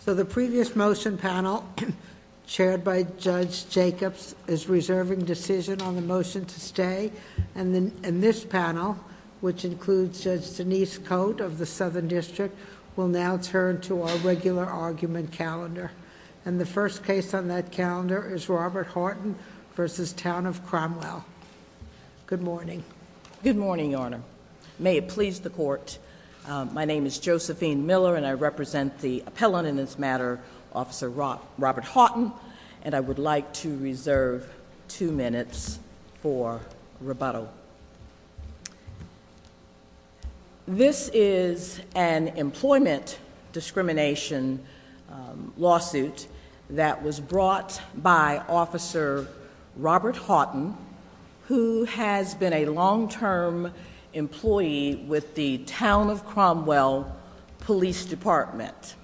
So the previous motion panel chaired by Judge Jacobs is reserving decision on the motion to stay and then in this panel which includes Judge Denise Coate of the Southern District will now turn to our regular argument calendar and the first case on that calendar is Robert Haughton v. Town of Cromwell. Good morning. Good morning, Your Honor. May it please the court. My name is Josephine Miller and I represent the appellant in this matter, Officer Robert Haughton, and I would like to reserve two minutes for rebuttal. This is an employment discrimination lawsuit that was brought by Officer Robert Haughton who has been a long-term employee with the Town of Cromwell Police Department.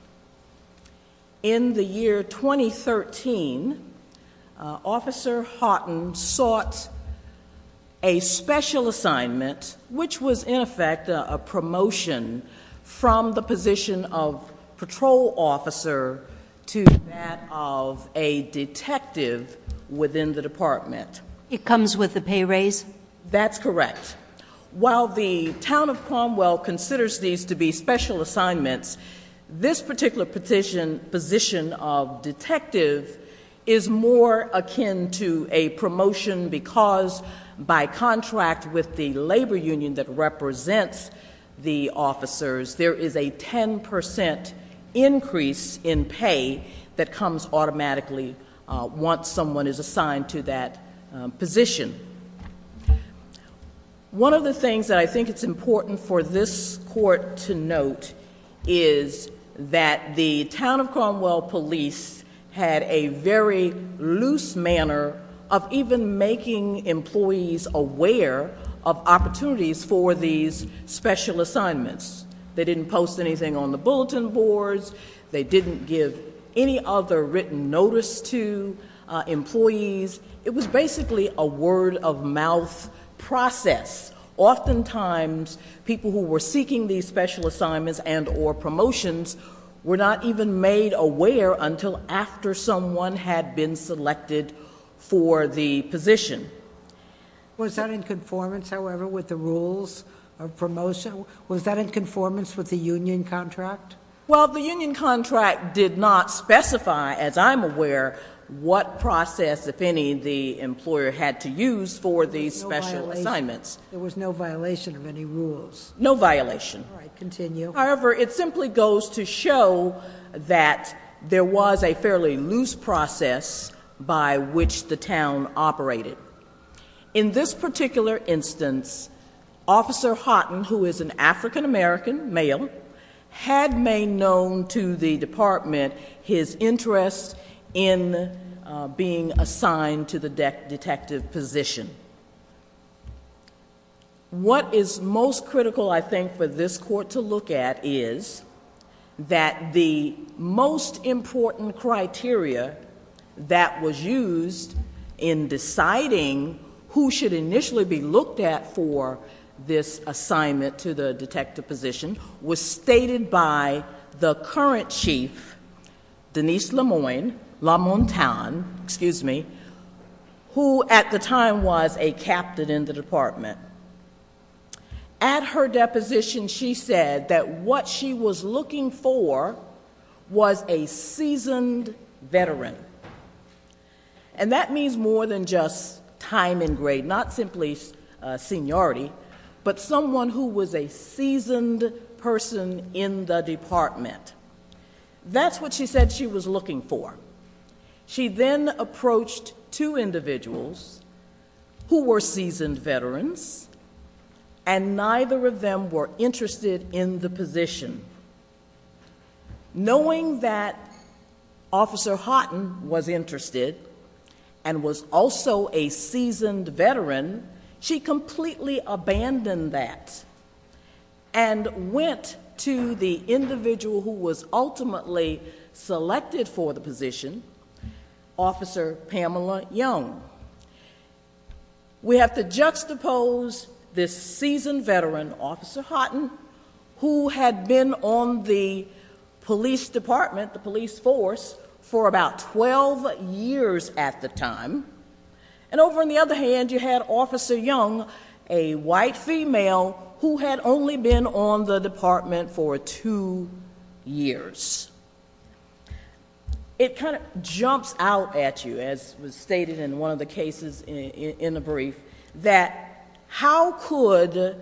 In the year 2013, Officer Haughton sought a special assignment which was in effect a promotion from the position of patrol officer to that of a detective within the department. It comes with the pay raise? That's correct. While the Town of Cromwell considers these to be special assignments, this particular position of detective is more akin to a promotion because by contract with the labor union that represents the officers there is a 10% increase in pay that comes automatically once someone is assigned to that position. One of the things that I think it's important for this court to note is that the Town of Cromwell police had a very loose manner of even making employees aware of opportunities for these special assignments. They didn't post anything on the bulletin boards. They didn't give any other written notice to employees. It was basically a word-of-mouth process. Oftentimes people who were seeking these special assignments and or promotions were not even made aware until after someone had been selected for the Was that in conformance with the union contract? Well, the union contract did not specify, as I'm aware, what process, if any, the employer had to use for these special assignments. There was no violation of any rules? No violation. However, it simply goes to show that there was a fairly loose process by which the town operated. In this particular instance, Officer Haughton, who is an African-American male, had made known to the department his interest in being assigned to the detective position. What is most critical, I think, for this court to look at is that the most important criteria that was used in to the detective position was stated by the current chief, Denise Lemoine-Lamontagne, who, at the time, was a captain in the department. At her deposition, she said that what she was looking for was a seasoned veteran. That means more than just time and grade, not simply seniority, but someone who was a seasoned person in the department. That's what she said she was looking for. She then approached two individuals who were seasoned veterans and neither of them were interested in the position. Knowing that Officer Haughton was interested and was also a seasoned veteran, she completely abandoned that and went to the individual who was ultimately selected for the position, Officer Pamela Young. We have to juxtapose this seasoned veteran, Officer Haughton, who had been on the police department, the police force, for about 12 years at the time, and over on the other hand, you had Officer Young, a white female who had only been on the department for two years. It kind of jumps out at you, as was stated in one of the cases in the brief, that how could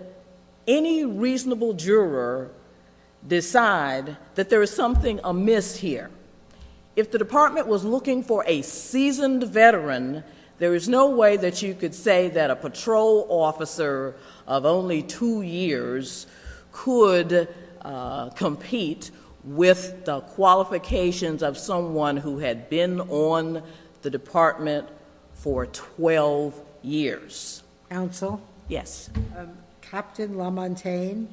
any reasonable juror decide that there is something amiss here? If the department was looking for a seasoned veteran, there is no way that you could say that a patrol officer of only two years could compete with the qualifications of someone who had been on the department for 12 years. Counsel? Yes. Captain Lamontagne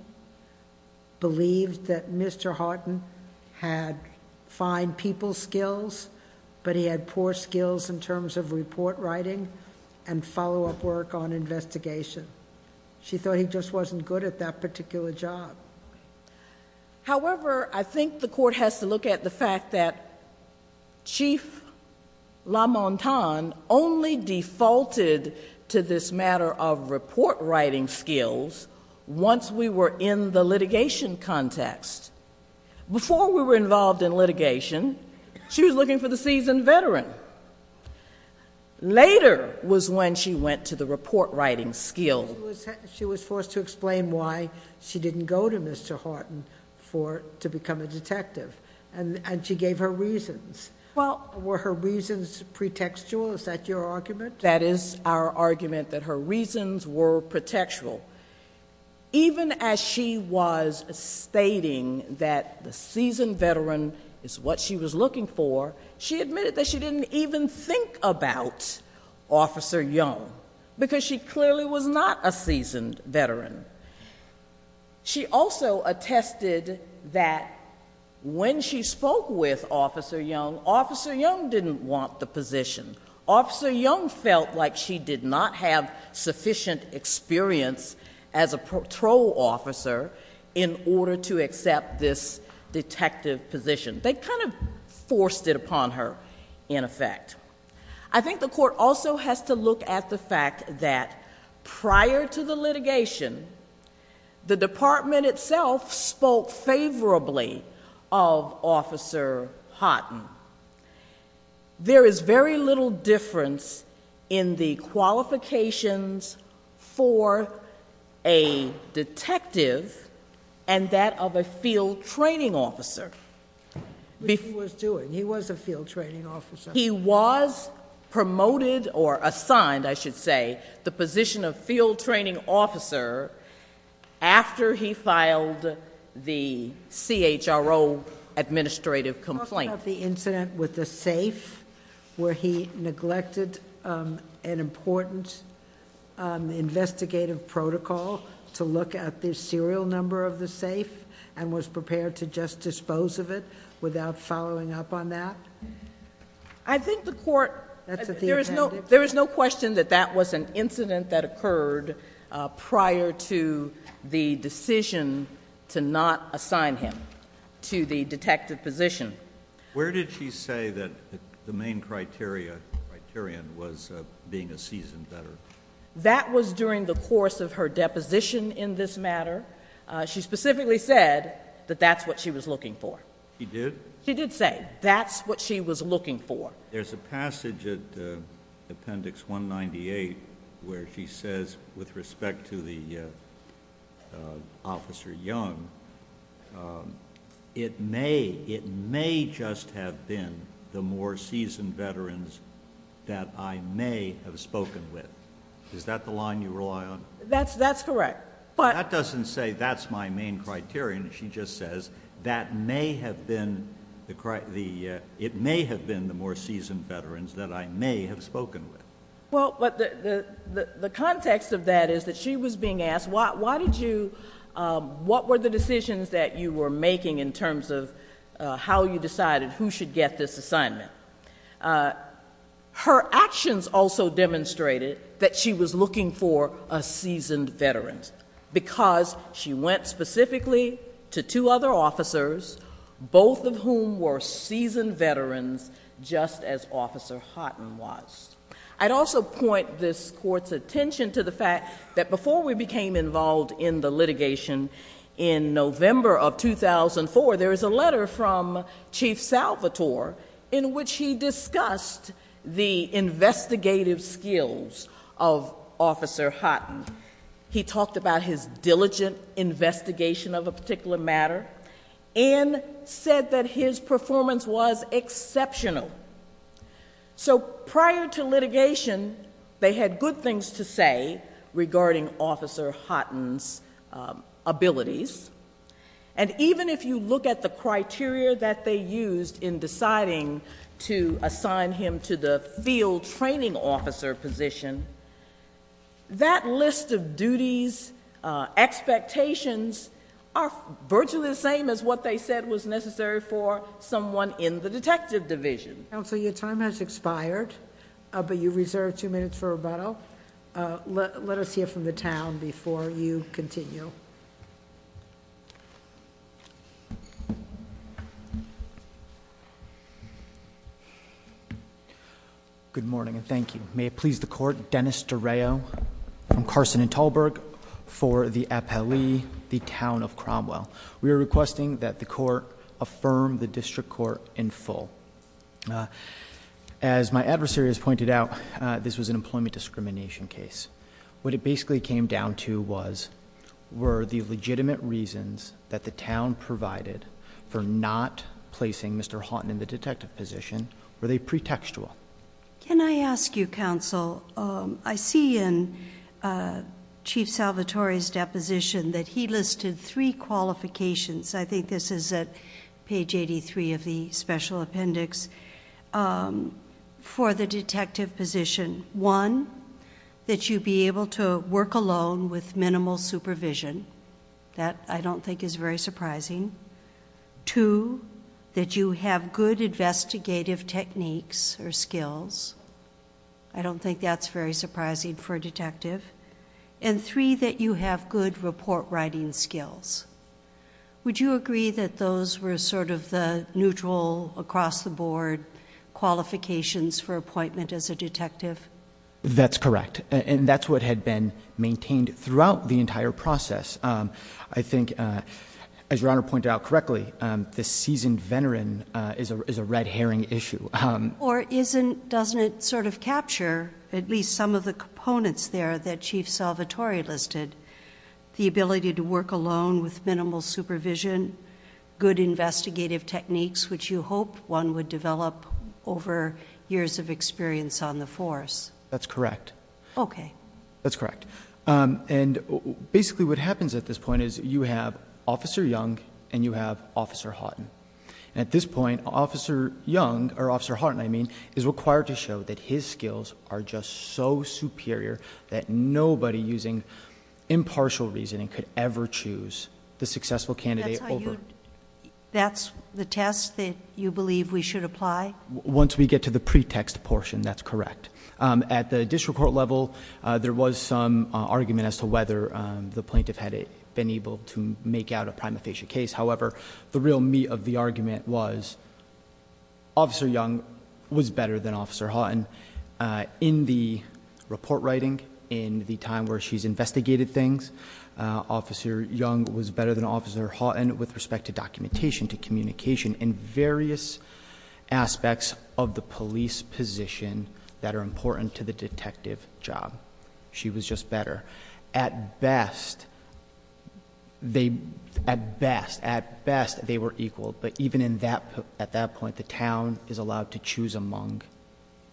believed that Mr. Haughton had fine people skills, but he had poor skills in terms of report writing and follow-up work on investigation. She thought he just wasn't good at that particular job. However, I think the court has to look at the fact that Chief Lamontagne only defaulted to this matter of report writing skills once we were in the litigation context. Before we were involved in litigation, she was looking for the seasoned veteran. Later was when she went to the report writing skills. She was forced to explain why she didn't go to Mr. Haughton to become a detective, and she gave her reasons. Were her reasons pretextual? Is that your argument? That is our argument, that her reasons were pretextual. Even as she was stating that the seasoned veteran is what she was looking for, she admitted that she didn't even think about Officer Young, because she clearly was not a seasoned veteran. She also attested that when she spoke with Officer Young, Officer Young didn't want the position. Officer Young felt like she did not have sufficient experience as a patrol officer in order to accept this detective position. They kind of forced it upon her, in effect. I think the court also has to look at the fact that prior to the litigation, the department itself spoke favorably of Officer Haughton. There is very little difference in the qualifications for a detective and that of a field training officer. What he was doing. He was a field training officer. He was promoted or assigned, I should say, the position of field training officer after he filed the CHRO administrative complaint. You're talking about the incident with the safe, where he neglected an important investigative protocol to look at the serial number of the safe and was prepared to just dispose of it without following up on that? There is no question that that was an incident that occurred prior to the decision to not accept the position. Where did she say that the main criterion was being a seasoned veteran? That was during the course of her deposition in this matter. She specifically said that that's what she was looking for. She did? She did say that's what she was looking for. There's a passage at Appendix 198 where she says with respect to the Officer Young, it may just have been the more seasoned veterans that I may have spoken with. Is that the line you rely on? That's correct. That doesn't say that's my main criterion. She just says it may have been the more seasoned veterans that I may have spoken with. The context of that is that she was being asked, what were the decisions that you were making in terms of how you decided who should get this assignment? Her actions also demonstrated that she was looking for a seasoned veteran because she went specifically to two other officers, both of whom were seasoned veterans just as Officer Houghton was. I'd also point this Court's attention to the fact that before we became involved in the litigation, there was a letter from Chief Salvatore in which he discussed the investigative skills of Officer Houghton. He talked about his diligent investigation of a particular matter and said that his performance was exceptional. Prior to litigation, they had good things to say regarding Officer Houghton's abilities. Even if you look at the criteria that they used in deciding to assign him to the field training officer position, that list of duties, expectations, are virtually the same as what they said was necessary for someone in the detective division. Counsel, your time has expired, but you reserve two minutes for rebuttal. Let us hear from the town before you continue. Good morning and thank you. May it please the Court, Dennis DeRao from Carson and Talberg for the appellee, the Town of Cromwell. We are requesting that the Court affirm the District Court in full. As my adversary has pointed out, this was an employment discrimination case. What it basically came down to was, were the legitimate reasons that the town provided for not placing Mr. Houghton in the detective position, were they pretextual? Can I ask you, Counsel, I see in Chief Salvatore's deposition that he listed three qualifications I think this is at page 83 of the special appendix, for the detective position. One, that you be able to work alone with minimal supervision. That, I don't think, is very surprising. Two, that you have good investigative techniques or skills. I don't think that's very surprising for a detective. And three, that you have good report writing skills. Would you agree that those were sort of the neutral, across-the-board qualifications for appointment as a detective? That's correct. And that's what had been maintained throughout the entire process. I think, as Your Honor pointed out correctly, the seasoned veteran is a red herring issue. Or doesn't it sort of capture, at least some of the components there that Chief Salvatore listed? The ability to work alone with minimal supervision, good investigative techniques, which you hope one would develop over years of experience on the force. That's correct. Okay. That's correct. And basically what happens at this point is you have Officer Young and you have Officer Houghton. At this point, Officer Young, or Officer Houghton I mean, is required to show that his skills are just so superior that nobody using impartial reasoning could ever choose the successful candidate over. That's the test that you believe we should apply? Once we get to the pretext portion, that's correct. At the district court level, there was some argument as to whether the plaintiff had been able to make out a prima facie case. However, the real meat of the argument was Officer Young was better than Officer Houghton in the report writing, in the time where she's investigated things. Officer Young was better than Officer Houghton with respect to documentation, to communication in various aspects of the police position that are important to the detective job. She was just better. At best, at best they were equal, but even at that point, the town is allowed to choose among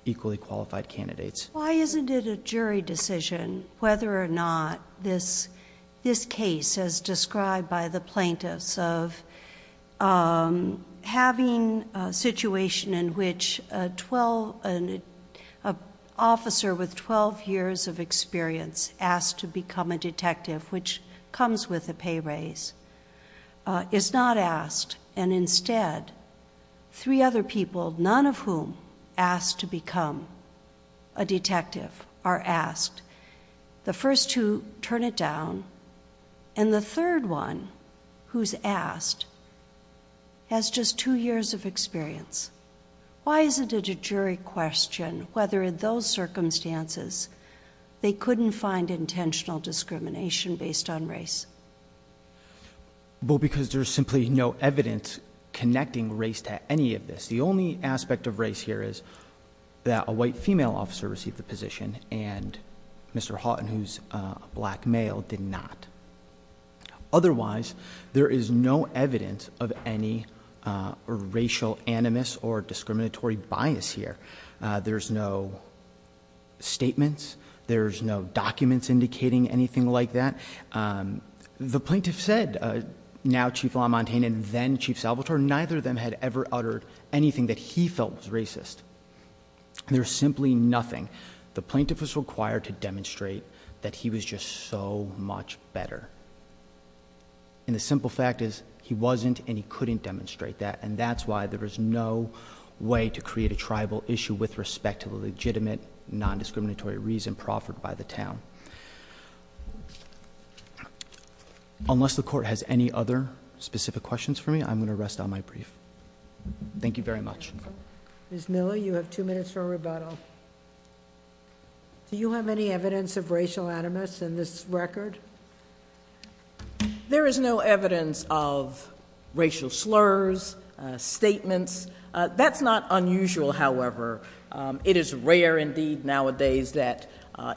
equally qualified candidates. Why isn't it a jury decision whether or not this case, as described by the plaintiffs of having a situation in which an officer with 12 years of experience asked to become a detective, which comes with a pay raise, is not asked and instead three other people, none of whom asked to become a detective are asked. The first two turn it down and the third one who's asked has just two years of experience. Why isn't it a jury question whether in those circumstances they couldn't find intentional discrimination based on race? Well, because there's simply no evidence connecting race to any of this. The only aspect of race here is that a white female officer received the position and Mr. Houghton, who's a black male, did not. Otherwise, there is no evidence of any racial animus or discriminatory bias here. There's no statements. There's no documents indicating anything like that. There's no evidence. The plaintiff said, now Chief LaMontagne and then Chief Salvatore, neither of them had ever uttered anything that he felt was racist. There's simply nothing. The plaintiff was required to demonstrate that he was just so much better. The simple fact is he wasn't and he couldn't demonstrate that. That's why there is no way to create a tribal issue with respect to legitimate, non-discriminatory reason proffered by the town. Unless the court has any other specific questions for me, I'm going to rest on my brief. Thank you very much. Ms. Miller, you have two minutes for a rebuttal. Do you have any evidence of racial animus in this record? There is no evidence of racial slurs, statements. That's not unusual, however. It is rare indeed nowadays that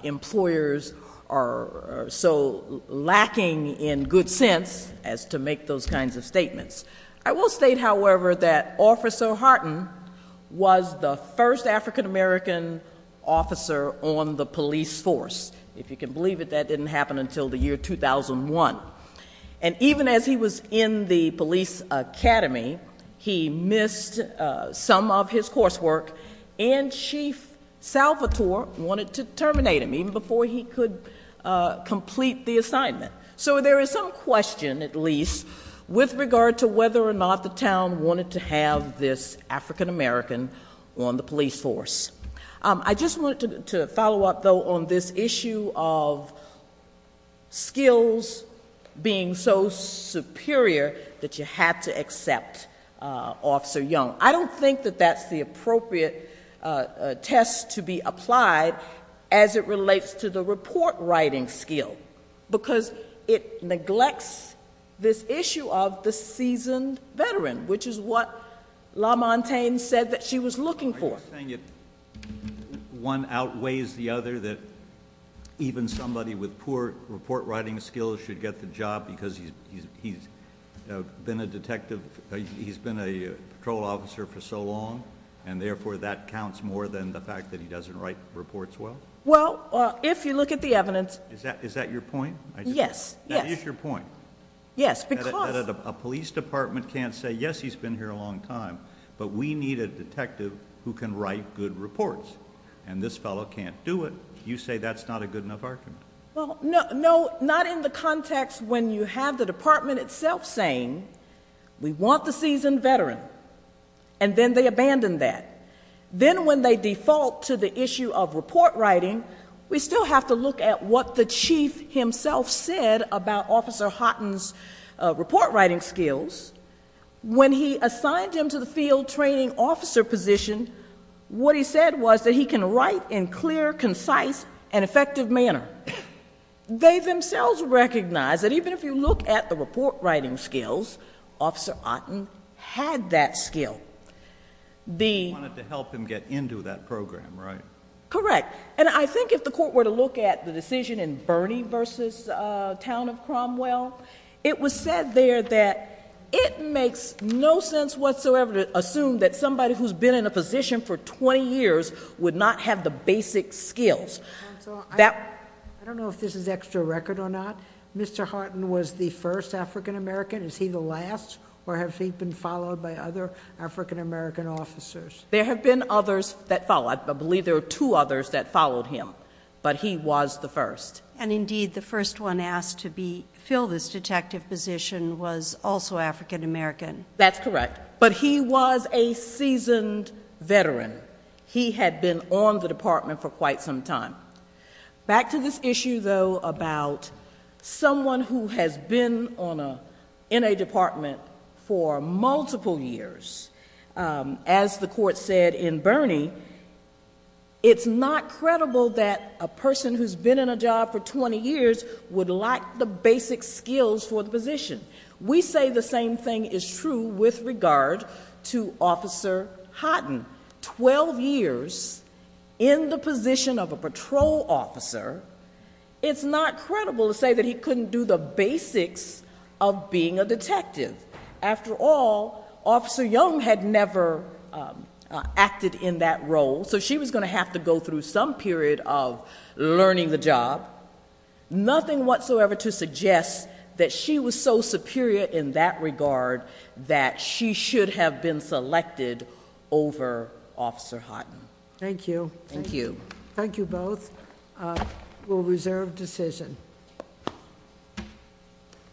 employers are so lacking in good sense as to make those kinds of statements. I will state, however, that Officer Hartin was the first African-American officer on the police force. If you can believe it, that didn't happen until the year 2001. Even as he was in the police academy, he missed some of his coursework. Chief Salvatore and Chief Salvatore wanted to terminate him even before he could complete the assignment. So there is some question, at least, with regard to whether or not the town wanted to have this African-American on the police force. I just wanted to follow up, though, on this issue of skills being so superior that you had to accept Officer Young. I don't think that that's the appropriate test to be applied as it relates to the report writing skill, because it neglects this issue of the seasoned veteran, which is what LaMontagne said that she was looking for. One outweighs the other, that even somebody with poor report writing skills should get the job because he's been a patrol officer for so long, and therefore that counts more than the fact that he doesn't write reports well? Well, if you look at the evidence... Is that your point? Yes. That is your point? Yes, because... A police department can't say, yes, he's been here a long time, but we need a detective who can write good reports, and this fellow can't do it. You say that's not a good enough argument? No, not in the context when you have the department itself saying, we want the seasoned veteran, and then they abandon that. Then when they default to the issue of report writing, we still have to look at what the chief himself said about Officer Houghton's report writing skills. When he assigned him to the field training officer position, what he said was that he can write in clear, concise, and effective manner. They themselves recognize that even if you look at the report writing skills, Officer Houghton had that skill. You wanted to help him get into that program, right? Correct. I think if the court were to look at the decision in Bernie v. Town of Cromwell, it was said there that it makes no sense whatsoever to assume that somebody who's been in a position for 20 years would not have the basic skills. Counsel, I don't know if this is extra record or not. Mr. Houghton was the first African American. Is he the last, or has he been followed by other African American officers? There have been others that followed. I believe there were two others that followed him, but he was the first. And indeed, the first one asked to fill this detective position was also African American. That's correct, but he was a seasoned veteran. He had been on the department for quite some time. Back to this issue, though, about someone who has been in a department for multiple years. As the court said in Bernie, it's not credible that a person who's been in a job for 20 years would lack the basic skills for the position. We say the same thing is true with regard to Officer Houghton. Twelve years in the position of a patrol officer, it's not credible to say that he couldn't do the basics of being a detective. After all, Officer Young had never acted in that role, so she was going to have to go through some period of learning the job. Nothing whatsoever to suggest that she was so superior in that regard that she should have been selected over Officer Houghton. Thank you. Thank you. Thank you both. We'll reserve decision.